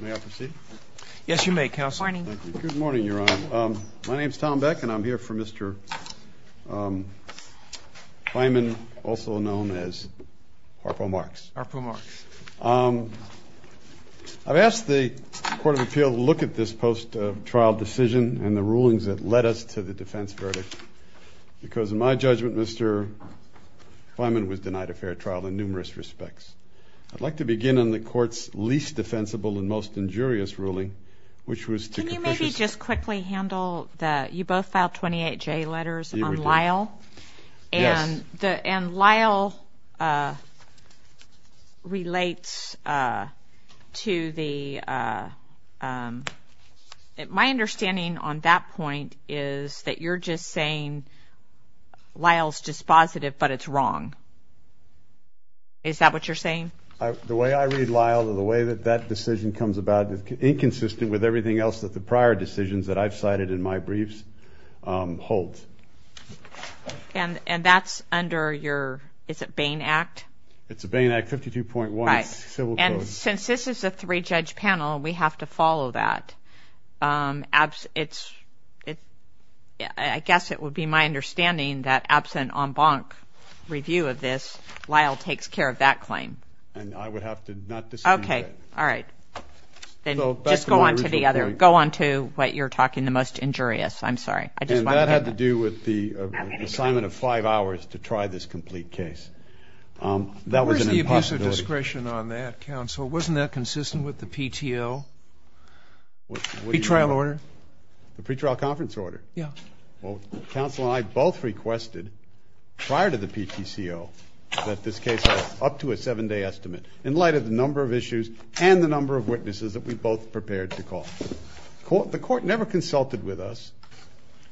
May I proceed? Yes, you may, Counsel. Good morning. Good morning, Your Honor. My name is Tom Beck and I'm here for Mr. Feiman, also known as Harpo Marks. Harpo Marks. I've asked the Court of Appeal to look at this post-trial decision and the rulings that led us to the defense verdict because in my judgment, Mr. Feiman was denied a fair trial in numerous respects. I'd like to begin on the Court's least defensible and most injurious ruling, which was to... That's dispositive, but it's wrong. Is that what you're saying? The way I read Lyle and the way that that decision comes about is inconsistent with everything else that the prior decisions that I've cited in my briefs hold. And that's under your, is it Bain Act? It's a Bain Act, 52.1 civil code. And since this is a three-judge panel, we have to follow that. I guess it would be my understanding that absent en banc review of this, Lyle takes care of that claim. And I would have to not dispute that. Okay. All right. Then just go on to the other, go on to what you're talking, the most injurious. I'm sorry. I just want to... And that had to do with the assignment of five hours to try this complete case. That was an impossibility. With your discretion on that, counsel, wasn't that consistent with the PTL pre-trial order? The pre-trial conference order? Yeah. Well, counsel and I both requested prior to the PTCO that this case have up to a seven-day estimate in light of the number of issues and the number of witnesses that we both prepared to call. The court never consulted with us,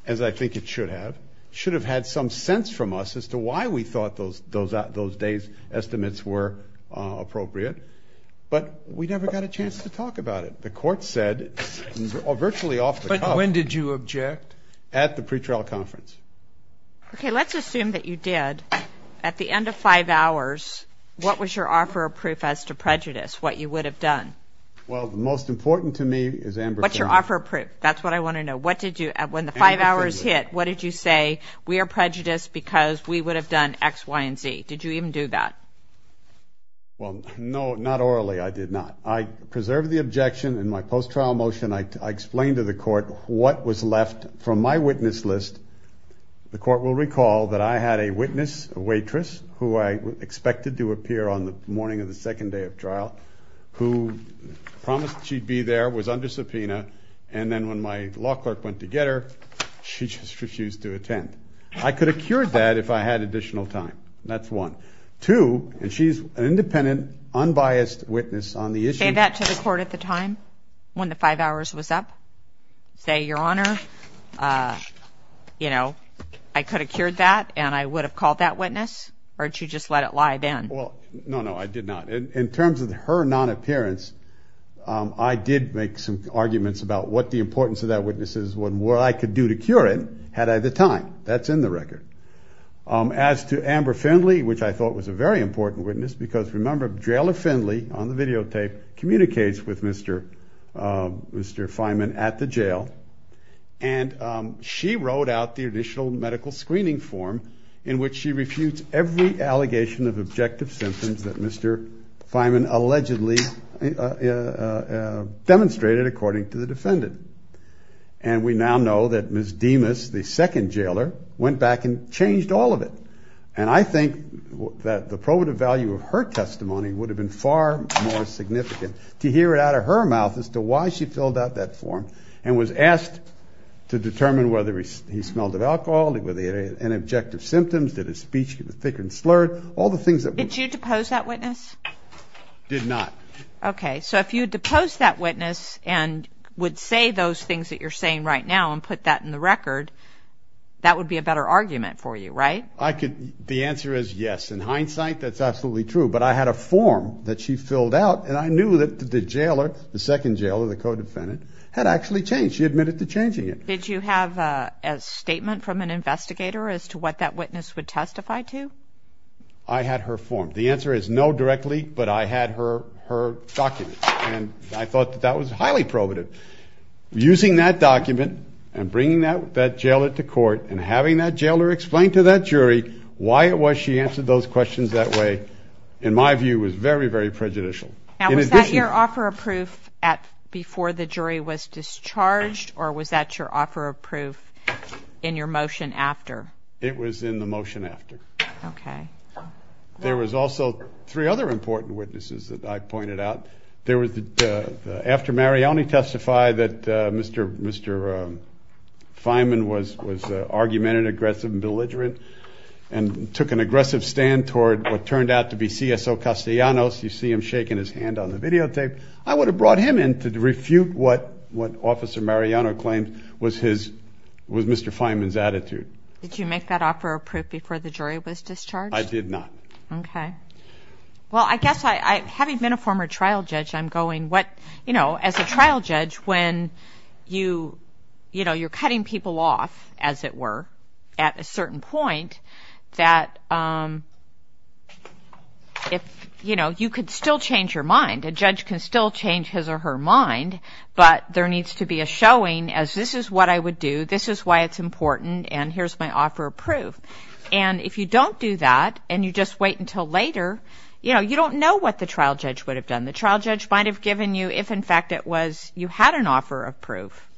as I think it should have. It should have had some sense from us as to why we thought those days estimates were appropriate. But we never got a chance to talk about it. The court said, virtually off the cuff... But when did you object? At the pre-trial conference. Okay. Let's assume that you did. At the end of five hours, what was your offer of proof as to prejudice, what you would have done? Well, the most important to me is Amber... What's your offer of proof? That's what I want to know. When the five hours hit, what did you say? We are prejudiced because we would have done X, Y, and Z. Did you even do that? Well, no, not orally. I did not. I preserved the objection in my post-trial motion. I explained to the court what was left from my witness list. The court will recall that I had a witness, a waitress, who I expected to appear on the morning of the second day of trial, who promised she'd be there, was under subpoena, and then when my law clerk went to get her, she just refused to attend. I could have cured that if I had additional time. That's one. Two, and she's an independent, unbiased witness on the issue... Did you say that to the court at the time when the five hours was up? Say, Your Honor, I could have cured that and I would have called that witness? Or did you just let it lie then? Well, no, no, I did not. In terms of her non-appearance, I did make some arguments about what the importance of that witness is and what I could do to cure it had I the time. That's in the record. As to Amber Findley, which I thought was a very important witness, because remember, Jailer Findley, on the videotape, communicates with Mr. Fineman at the jail, and she wrote out the initial medical screening form in which she refutes every allegation of objectivity. And we now know that Ms. Demas, the second jailer, went back and changed all of it. And I think that the probative value of her testimony would have been far more significant to hear it out of her mouth as to why she filled out that form and was asked to determine whether he smelled of alcohol, whether he had any objective symptoms, did his speech get thick and slurred, all the things that... Did you depose that witness? Did not. Okay. So if you deposed that witness and would say those things that you're saying right now and put that in the record, that would be a better argument for you, right? I could... The answer is yes. In hindsight, that's absolutely true. But I had a form that she filled out, and I knew that the jailer, the second jailer, the co-defendant, had actually changed. She admitted to changing it. Did you have a statement from an investigator as to what that witness would testify to? I had her form. The answer is no directly, but I had her document. And I thought that that was highly probative. Using that document and bringing that jailer to court and having that jailer explain to that jury why it was she answered those questions that way, in my view, was very, very prejudicial. Now, was that your offer of proof before the jury was discharged, or was that your offer of proof in your motion after? It was in the motion after. Okay. There was also three other important witnesses that I pointed out. After Mariani testified that Mr. Fineman was argumentative, aggressive, and belligerent, and took an aggressive stand toward what turned out to be CSO Castellanos, you see him shaking his hand on the videotape, I would have brought him in to refute what Officer Mariano claimed was Mr. Fineman's attitude. Did you make that offer of proof before the jury was discharged? I did not. Okay. And if you don't do that and you just wait until later, you know, you don't know what the trial judge would have done. The trial judge might have given you if, in fact, it was you had an offer of proof,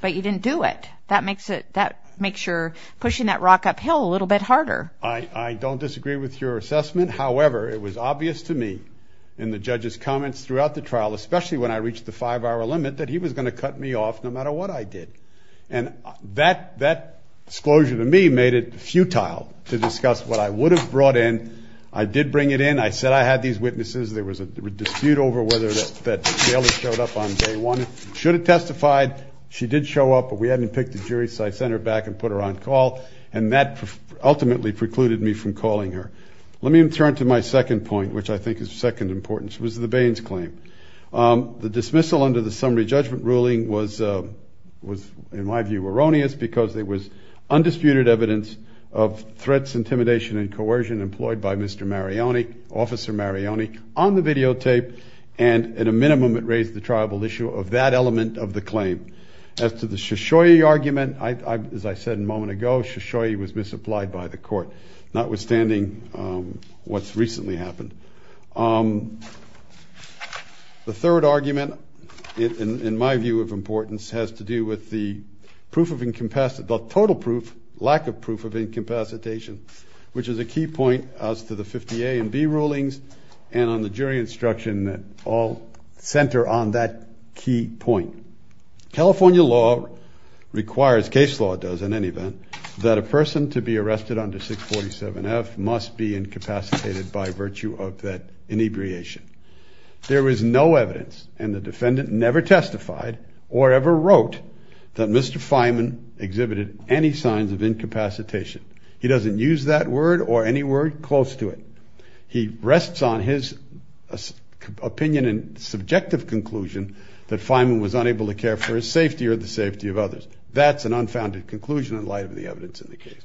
but you didn't do it. That makes your pushing that rock uphill a little bit harder. I don't disagree with your assessment. However, it was obvious to me in the judge's comments throughout the trial, especially when I reached the five-hour limit, that he was going to cut me off no matter what I did. And that disclosure to me made it futile to discuss what I would have brought in. I did bring it in. I said I had these witnesses. There was a dispute over whether that bailiff showed up on day one. Should have testified. She did show up, but we hadn't picked a jury, so I sent her back and put her on call. And that ultimately precluded me from calling her. Let me turn to my second point, which I think is of second importance, which was the Baines claim. The dismissal under the summary judgment ruling was, in my view, erroneous because there was undisputed evidence of threats, intimidation, and coercion employed by Mr. Marioni, Officer Marioni, on the videotape. And at a minimum, it raised the tribal issue of that element of the claim. As to the Shoshoi argument, as I said a moment ago, Shoshoi was misapplied by the court, notwithstanding what's recently happened. The third argument, in my view of importance, has to do with the total lack of proof of incapacitation, which is a key point as to the 50 A and B rulings and on the jury instruction that all center on that key point. California law requires, case law does in any event, that a person to be arrested under 647F must be incapacitated by virtue of that inebriation. There was no evidence, and the defendant never testified or ever wrote that Mr. Feynman exhibited any signs of incapacitation. He doesn't use that word or any word close to it. He rests on his opinion and subjective conclusion that Feynman was unable to care for his safety or the safety of others. That's an unfounded conclusion in light of the evidence in the case.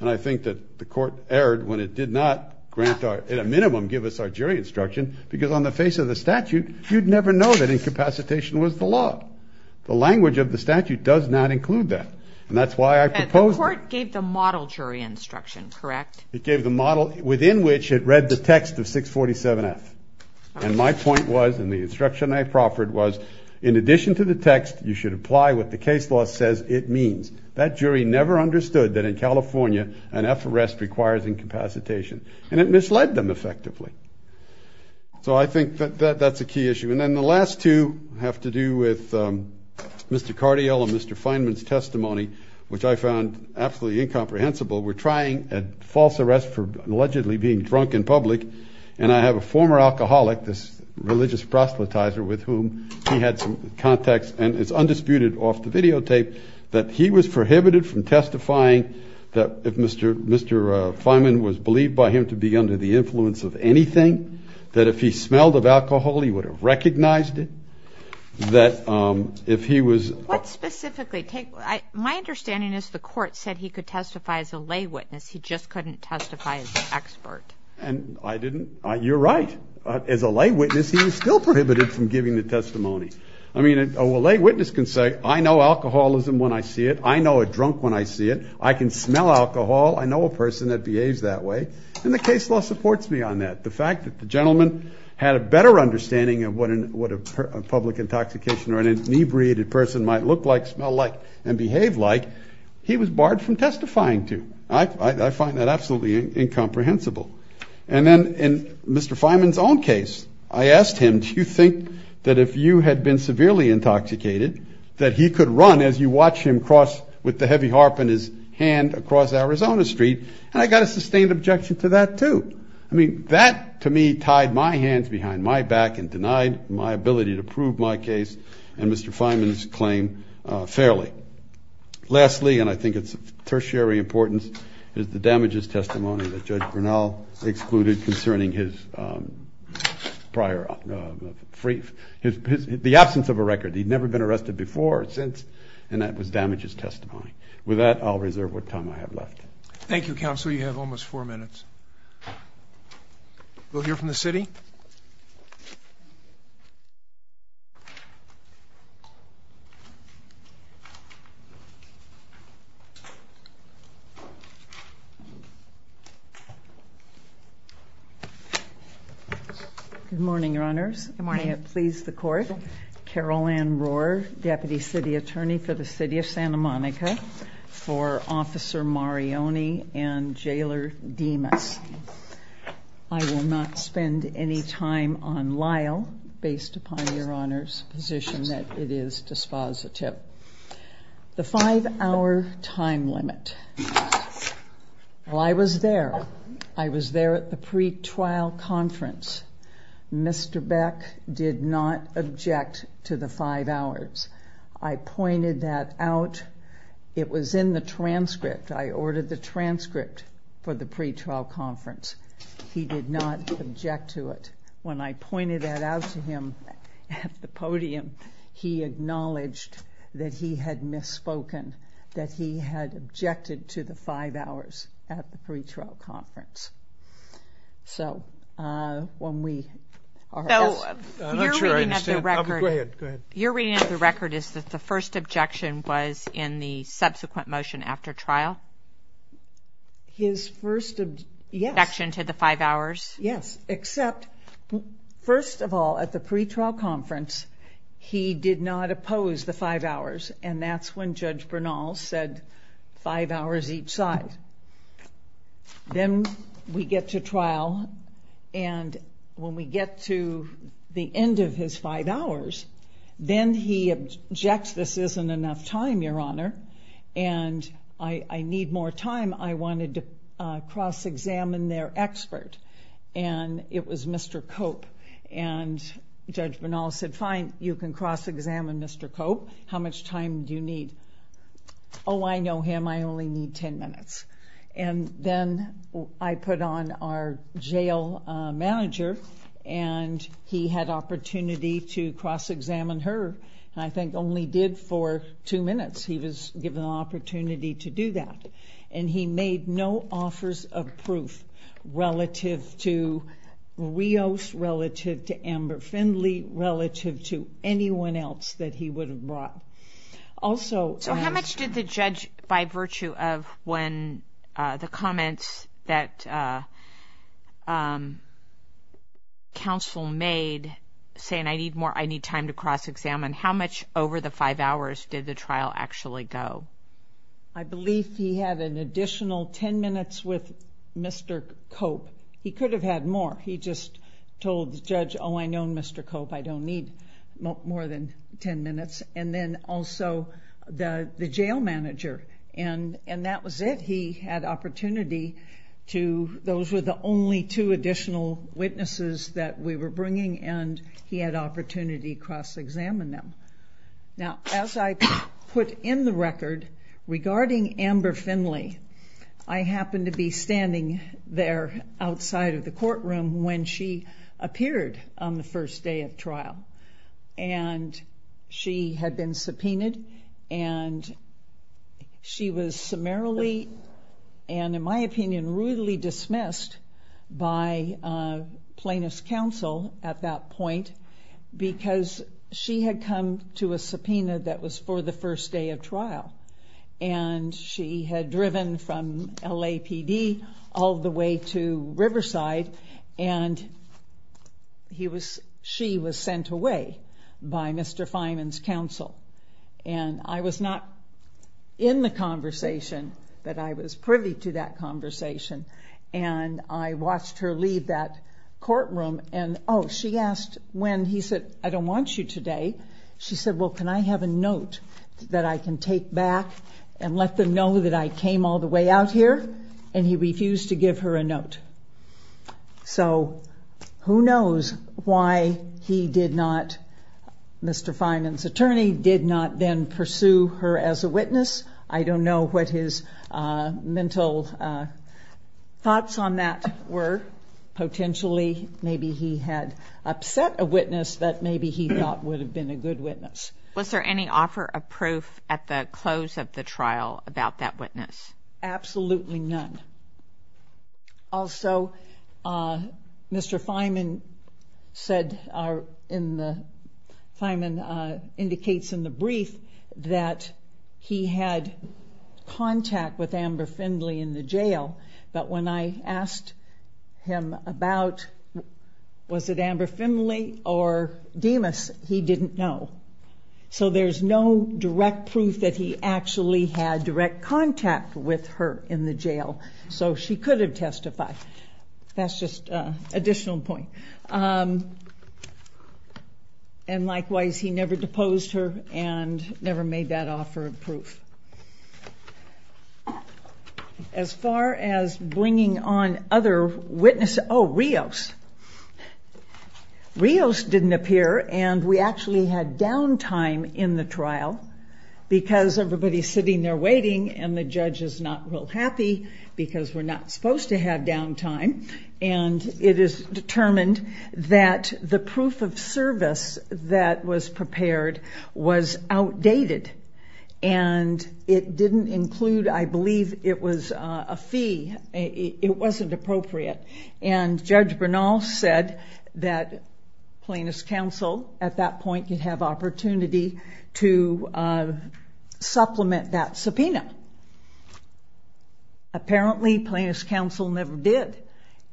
And I think that the court erred when it did not grant our, at a minimum, give us our jury instruction because on the face of the statute, you'd never know that incapacitation was the law. The language of the statute does not include that. And that's why I propose- The court gave the model jury instruction, correct? It gave the model within which it read the text of 647F. And my point was, and the instruction I proffered was, in addition to the text, you should apply what the case law says it means. That jury never understood that in California, an F arrest requires incapacitation. And it misled them effectively. So I think that that's a key issue. And then the last two have to do with Mr. Cardiel and Mr. Feynman's testimony, which I found absolutely incomprehensible. We're trying a false arrest for allegedly being drunk in public. And I have a former alcoholic, this religious proselytizer with whom he had some contacts. And it's undisputed off the videotape that he was prohibited from testifying that if Mr. Feynman was believed by him to be under the influence of anything, that if he smelled of alcohol, he would have recognized it. That if he was- What specifically? My understanding is the court said he could testify as a lay witness. He just couldn't testify as an expert. And I didn't. You're right. As a lay witness, he was still prohibited from giving the testimony. I mean, a lay witness can say, I know alcoholism when I see it. I know a drunk when I see it. I can smell alcohol. I know a person that behaves that way. And the case law supports me on that. The fact that the gentleman had a better understanding of what a public intoxication or an inebriated person might look like, smell like, and behave like, he was barred from testifying to. I find that absolutely incomprehensible. And then in Mr. Feynman's own case, I asked him, do you think that if you had been severely intoxicated, that he could run as you watch him cross with the heavy harp in his hand across Arizona Street? And I got a sustained objection to that, too. I mean, that, to me, tied my hands behind my back and denied my ability to prove my case and Mr. Feynman's claim fairly. Lastly, and I think it's of tertiary importance, is the damages testimony that Judge Grinnell excluded concerning the absence of a record. He'd never been arrested before or since, and that was damages testimony. With that, I'll reserve what time I have left. Thank you, Counsel. You have almost four minutes. We'll hear from the city. Good morning, Your Honors. Good morning. May it please the Court. Carol Ann Rohrer, Deputy City Attorney for the City of Santa Monica for Officer Marioni and Jailer Demas. I will not spend any time on Lyle based upon Your Honor's position that it is dispositive. The five-hour time limit. Well, I was there. I was there at the pretrial conference. Mr. Beck did not object to the five hours. I pointed that out. It was in the transcript. I ordered the transcript for the pretrial conference. He did not object to it. When I pointed that out to him at the podium, he acknowledged that he had misspoken, that he had objected to the five hours at the pretrial conference. So when we... I'm not sure I understand. Go ahead. Your reading of the record is that the first objection was in the subsequent motion after trial? His first... Objection to the five hours? Yes, except, first of all, at the pretrial conference, he did not oppose the five hours, and that's when Judge Bernal said five hours each side. Then we get to trial, and when we get to the end of his five hours, then he objects, this isn't enough time, Your Honor, and I need more time. I wanted to cross-examine their expert, and it was Mr. Cope, and Judge Bernal said, fine, you can cross-examine Mr. Cope. How much time do you need? Oh, I know him. I only need ten minutes, and then I put on our jail manager, and he had opportunity to cross-examine her, and I think only did for two minutes. He was given the opportunity to do that, and he made no offers of proof relative to Rios, relative to Amber Findley, relative to anyone else that he would have brought. Also... the comments that counsel made, saying I need more, I need time to cross-examine, how much over the five hours did the trial actually go? I believe he had an additional ten minutes with Mr. Cope. He could have had more. He just told the judge, oh, I know Mr. Cope, I don't need more than ten minutes, and then also the jail manager, and that was it. He had opportunity to... those were the only two additional witnesses that we were bringing, and he had opportunity to cross-examine them. Now, as I put in the record, regarding Amber Findley, I happened to be standing there outside of the courtroom when she appeared on the first day of trial, and she had been subpoenaed, and she was summarily, and in my opinion, rudely dismissed by plaintiff's counsel at that point because she had come to a subpoena that was for the first day of trial, and she had driven from LAPD all the way to Riverside, and she was sent away by Mr. Fineman's counsel, and I was not in the conversation, but I was privy to that conversation, and I watched her leave that courtroom, and, oh, she asked when, he said, I don't want you today. She said, well, can I have a note that I can take back and let them know that I came all the way out here, and he refused to give her a note. So who knows why he did not, Mr. Fineman's attorney, did not then pursue her as a witness. I don't know what his mental thoughts on that were. Potentially, maybe he had upset a witness that maybe he thought would have been a good witness. Was there any offer of proof at the close of the trial about that witness? Absolutely none. Also, Mr. Fineman said in the, Fineman indicates in the brief that he had contact with Amber Findley in the jail, but when I asked him about was it Amber Findley or Demas, he didn't know. So there's no direct proof that he actually had direct contact with her in the jail, so she could have testified. That's just an additional point. And likewise, he never deposed her and never made that offer of proof. As far as bringing on other witnesses, oh, Rios. Rios didn't appear, and we actually had downtime in the trial because everybody's sitting there waiting, and the judge is not real happy because we're not supposed to have downtime, and it is determined that the proof of service that was prepared was outdated, and it didn't include, I believe, it was a fee. It wasn't appropriate, and Judge Bernal said that Plaintiff's Counsel, at that point, could have opportunity to supplement that subpoena. Apparently, Plaintiff's Counsel never did,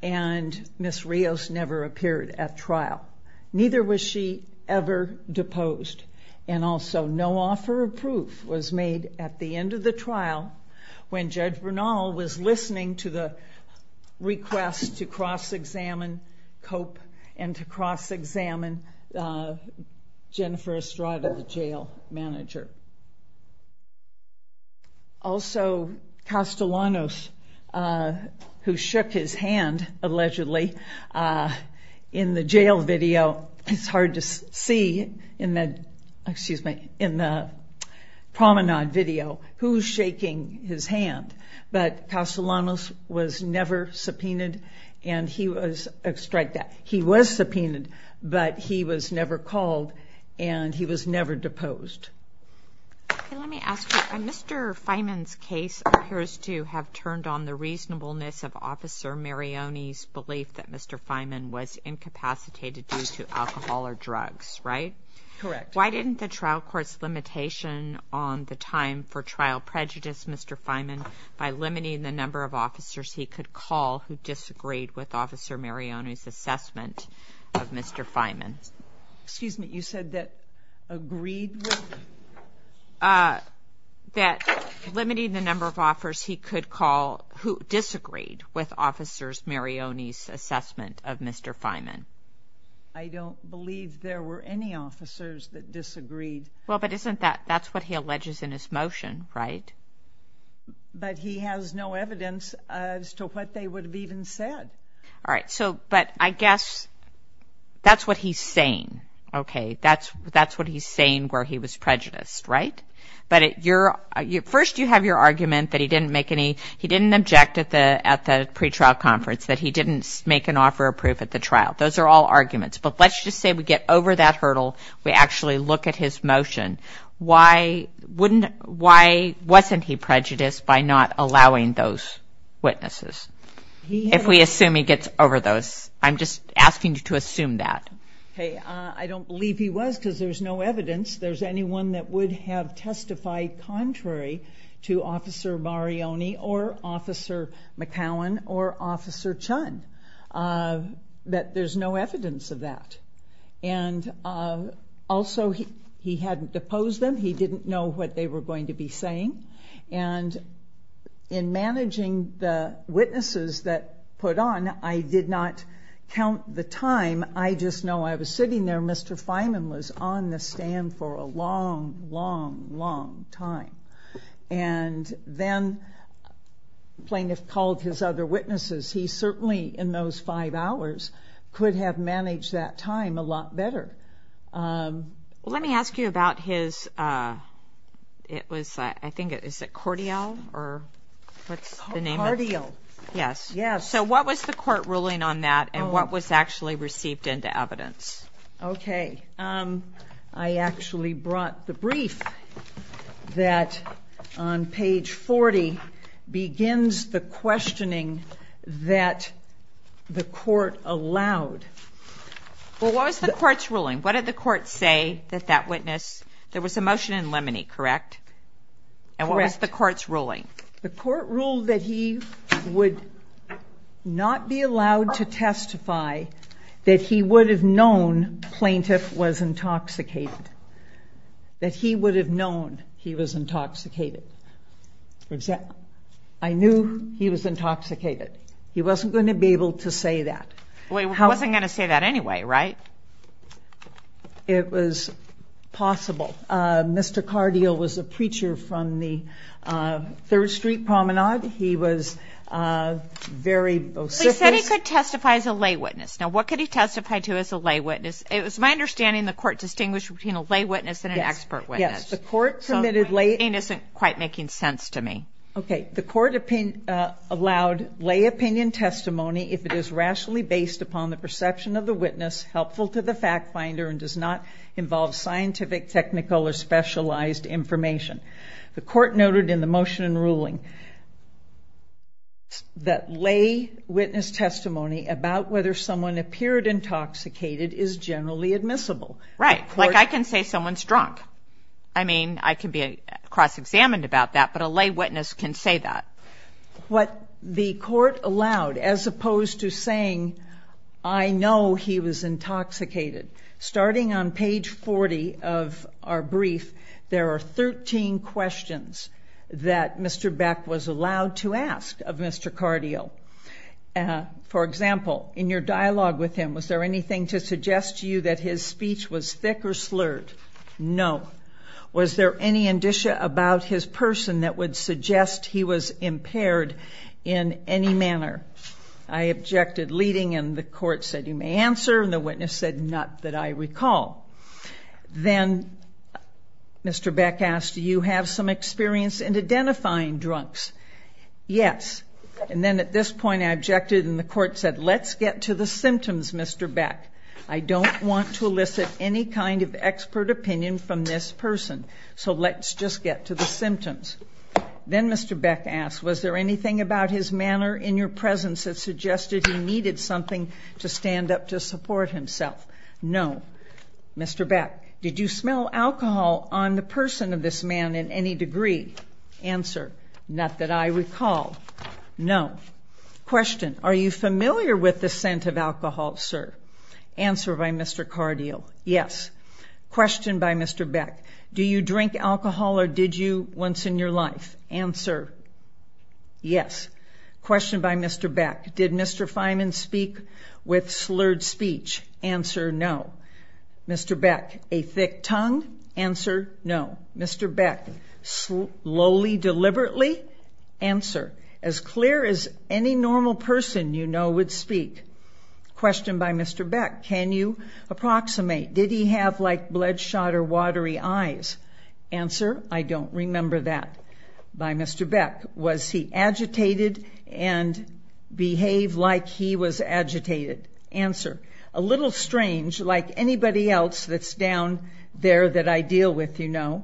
and Ms. Rios never appeared at trial. Neither was she ever deposed, and also no offer of proof was made at the end of the trial when Judge Bernal was listening to the request to cross-examine Cope and to cross-examine Jennifer Estrada, the jail manager. Also, Castellanos, who shook his hand, allegedly, in the jail video, it's hard to see in the promenade video who's shaking his hand, but Castellanos was never subpoenaed, and he was subpoenaed, but he was never called, and he was never deposed. Okay, let me ask you. Mr. Fineman's case appears to have turned on the reasonableness of Officer Marioni's belief that Mr. Fineman was incapacitated due to alcohol or drugs, right? Correct. Why didn't the trial court's limitation on the time for trial prejudice Mr. Fineman by limiting the number of officers he could call who disagreed with Officer Marioni's assessment of Mr. Fineman? Excuse me. You said that agreed with him? That limiting the number of officers he could call who disagreed with Officer Marioni's assessment of Mr. Fineman. I don't believe there were any officers that disagreed. Well, but isn't that what he alleges in his motion, right? But he has no evidence as to what they would have even said. All right, but I guess that's what he's saying, okay? That's what he's saying where he was prejudiced, right? But first you have your argument that he didn't object at the pretrial conference, that he didn't make an offer of proof at the trial. Those are all arguments, but let's just say we get over that hurdle. We actually look at his motion. Why wasn't he prejudiced by not allowing those witnesses? If we assume he gets over those. I'm just asking you to assume that. I don't believe he was because there's no evidence. There's anyone that would have testified contrary to Officer Marioni or Officer McCowan or Officer Chunn that there's no evidence of that. Also, he hadn't deposed them. He didn't know what they were going to be saying. And in managing the witnesses that put on, I did not count the time. I just know I was sitting there. Mr. Feynman was on the stand for a long, long, long time. And then the plaintiff called his other witnesses. He certainly, in those five hours, could have managed that time a lot better. Well, let me ask you about his, it was, I think, is it Cordial or what's the name of it? Cordial. Yes. So what was the court ruling on that and what was actually received into evidence? Okay. I actually brought the brief that on page 40 begins the questioning that the court allowed. Well, what was the court's ruling? What did the court say that that witness, there was a motion in limine, correct? And what was the court's ruling? The court ruled that he would not be allowed to testify that he would have known plaintiff was intoxicated. That he would have known he was intoxicated. I knew he was intoxicated. He wasn't going to be able to say that. Well, he wasn't going to say that anyway, right? It was possible. Mr. Cordial was a preacher from the Third Street Promenade. He was very vociferous. He said he could testify as a lay witness. Now, what could he testify to as a lay witness? It was my understanding the court distinguished between a lay witness and an expert witness. Yes. The court permitted lay. It isn't quite making sense to me. Okay. The court allowed lay opinion testimony if it is rationally based upon the perception of the witness, helpful to the fact finder, and does not involve scientific, technical, or specialized information. The court noted in the motion and ruling that lay witness testimony about whether someone appeared intoxicated is generally admissible. Right. Like I can say someone's drunk. I mean, I can be cross-examined about that, but a lay witness can say that. What the court allowed, as opposed to saying, I know he was intoxicated. Starting on page 40 of our brief, there are 13 questions that Mr. Beck was allowed to ask of Mr. Cordial. For example, in your dialogue with him, was there anything to suggest to you that his speech was thick or slurred? No. Was there any indicia about his person that would suggest he was impaired in any manner? I objected, leading, and the court said, you may answer, and the witness said, not that I recall. Then Mr. Beck asked, do you have some experience in identifying drunks? Yes. And then at this point, I objected, and the court said, let's get to the symptoms, Mr. Beck. I don't want to elicit any kind of expert opinion from this person, so let's just get to the symptoms. Then Mr. Beck asked, was there anything about his manner in your presence that suggested he needed something to stand up to support himself? No. Mr. Beck, did you smell alcohol on the person of this man in any degree? Answer, not that I recall. No. Question, are you familiar with the scent of alcohol, sir? Answer by Mr. Cardio, yes. Question by Mr. Beck, do you drink alcohol or did you once in your life? Answer, yes. Question by Mr. Beck, did Mr. Fineman speak with slurred speech? Answer, no. Mr. Beck, a thick tongue? Answer, no. Mr. Beck, slowly, deliberately? Answer, as clear as any normal person you know would speak. Question by Mr. Beck, can you approximate, did he have like bloodshot or watery eyes? Answer, I don't remember that. By Mr. Beck, was he agitated and behaved like he was agitated? Answer, a little strange, like anybody else that's down there that I deal with, you know.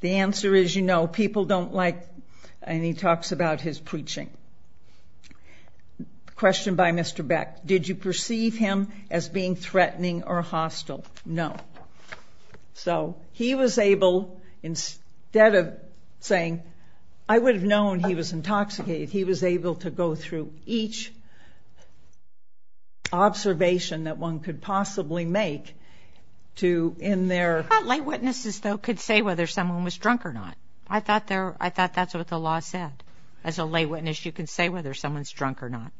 The answer is, you know, people don't like, and he talks about his preaching. Question by Mr. Beck, did you perceive him as being threatening or hostile? No. So, he was able, instead of saying, I would have known he was intoxicated, he was able to go through each observation that one could possibly make to, in their... I thought lay witnesses, though, could say whether someone was drunk or not. I thought that's what the law said. As a lay witness, you can say whether someone's drunk or not.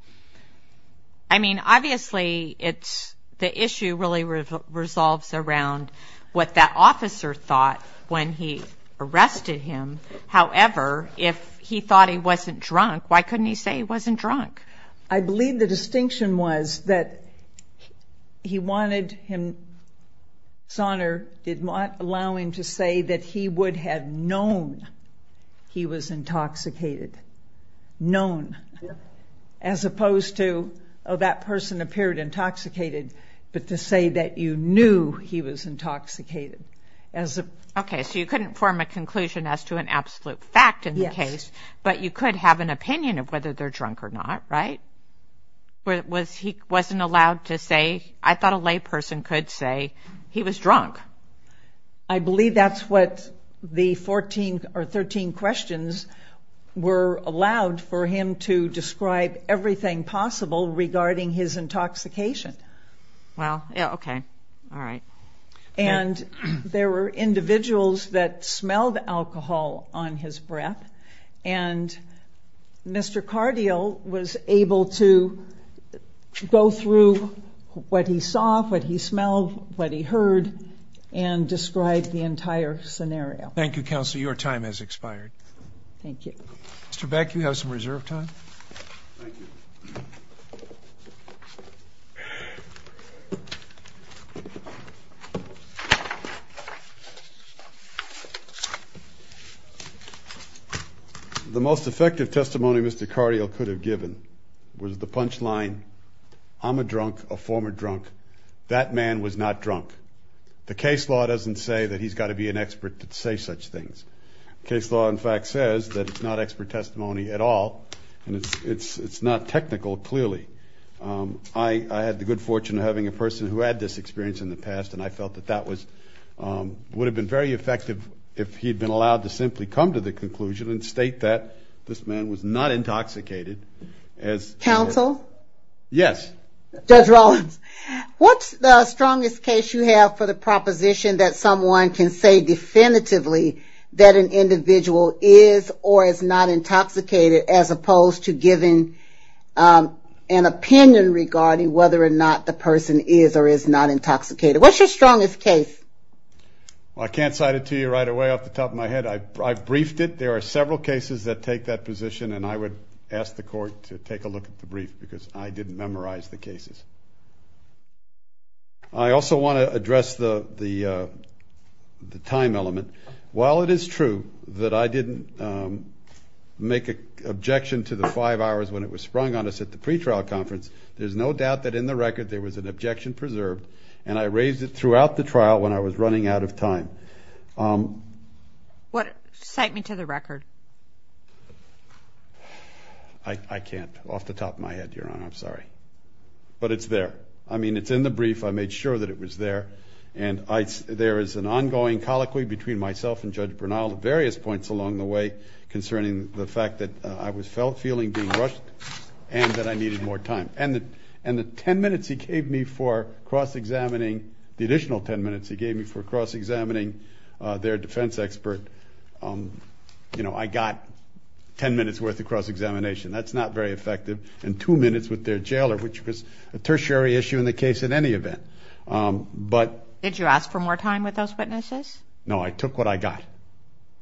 I mean, obviously, it's, the issue really resolves around what that officer thought when he arrested him. However, if he thought he wasn't drunk, why couldn't he say he wasn't drunk? I believe the distinction was that he wanted his honor, did not allow him to say that he would have known he was intoxicated. Known, as opposed to, oh, that person appeared intoxicated, but to say that you knew he was intoxicated. Okay, so you couldn't form a conclusion as to an absolute fact in the case, but you could have an opinion of whether they're drunk or not, right? Was he, wasn't allowed to say, I thought a lay person could say he was drunk. I believe that's what the 14 or 13 questions were allowed for him to describe everything possible regarding his intoxication. Well, yeah, okay, all right. And there were individuals that smelled alcohol on his breath, and Mr. Cardial was able to go through what he saw, what he smelled, what he heard, and describe the entire scenario. Thank you, Counselor, your time has expired. Thank you. Mr. Beck, you have some reserve time. Thank you. The most effective testimony Mr. Cardial could have given was the punchline, I'm a drunk, a former drunk, that man was not drunk. The case law doesn't say that he's got to be an expert to say such things. Case law, in fact, says that it's not expert testimony at all, and it's not technical, clearly. I had the good fortune of having a person who had this experience in the past, and I felt that that would have been very effective if he'd been allowed to simply come to the conclusion and state that this man was not intoxicated. Counsel? Yes. Judge Rollins, what's the strongest case you have for the proposition that someone can say definitively that an individual is or is not intoxicated, as opposed to giving an opinion regarding whether or not the person is or is not intoxicated? What's your strongest case? Well, I can't cite it to you right away off the top of my head. I've briefed it. There are several cases that take that position, and I would ask the court to take a look at the brief, because I didn't memorize the cases. I also want to address the time element. While it is true that I didn't make an objection to the five hours when it was sprung on us at the pretrial conference, there's no doubt that in the record there was an objection preserved, and I raised it throughout the trial when I was running out of time. Cite me to the record. I can't. Off the top of my head, Your Honor. I'm sorry. But it's there. I mean, it's in the brief. I made sure that it was there, and there is an ongoing colloquy between myself and Judge Bernal at various points along the way concerning the fact that I was feeling being rushed and that I needed more time. And the ten minutes he gave me for cross-examining, the additional ten minutes he gave me for cross-examining their defense expert, I got ten minutes worth of cross-examination. That's not very effective. And two minutes with their jailer, which was a tertiary issue in the case in any event. Did you ask for more time with those witnesses? No. I took what I got.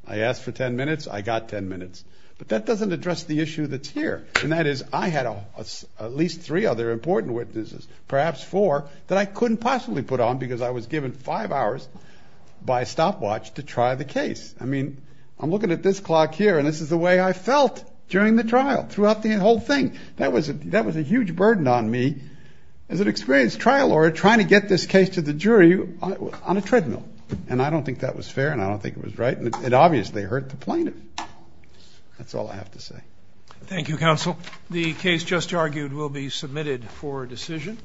I asked for ten minutes. I got ten minutes. But that doesn't address the issue that's here, and that is I had at least three other important witnesses, perhaps four, that I couldn't possibly put on because I was given five hours by stopwatch to try the case. I mean, I'm looking at this clock here, and this is the way I felt during the trial, throughout the whole thing. That was a huge burden on me as an experienced trial lawyer trying to get this case to the jury on a treadmill. And I don't think that was fair, and I don't think it was right. And it obviously hurt the plaintiff. That's all I have to say. Thank you, counsel. The case just argued will be submitted for decision.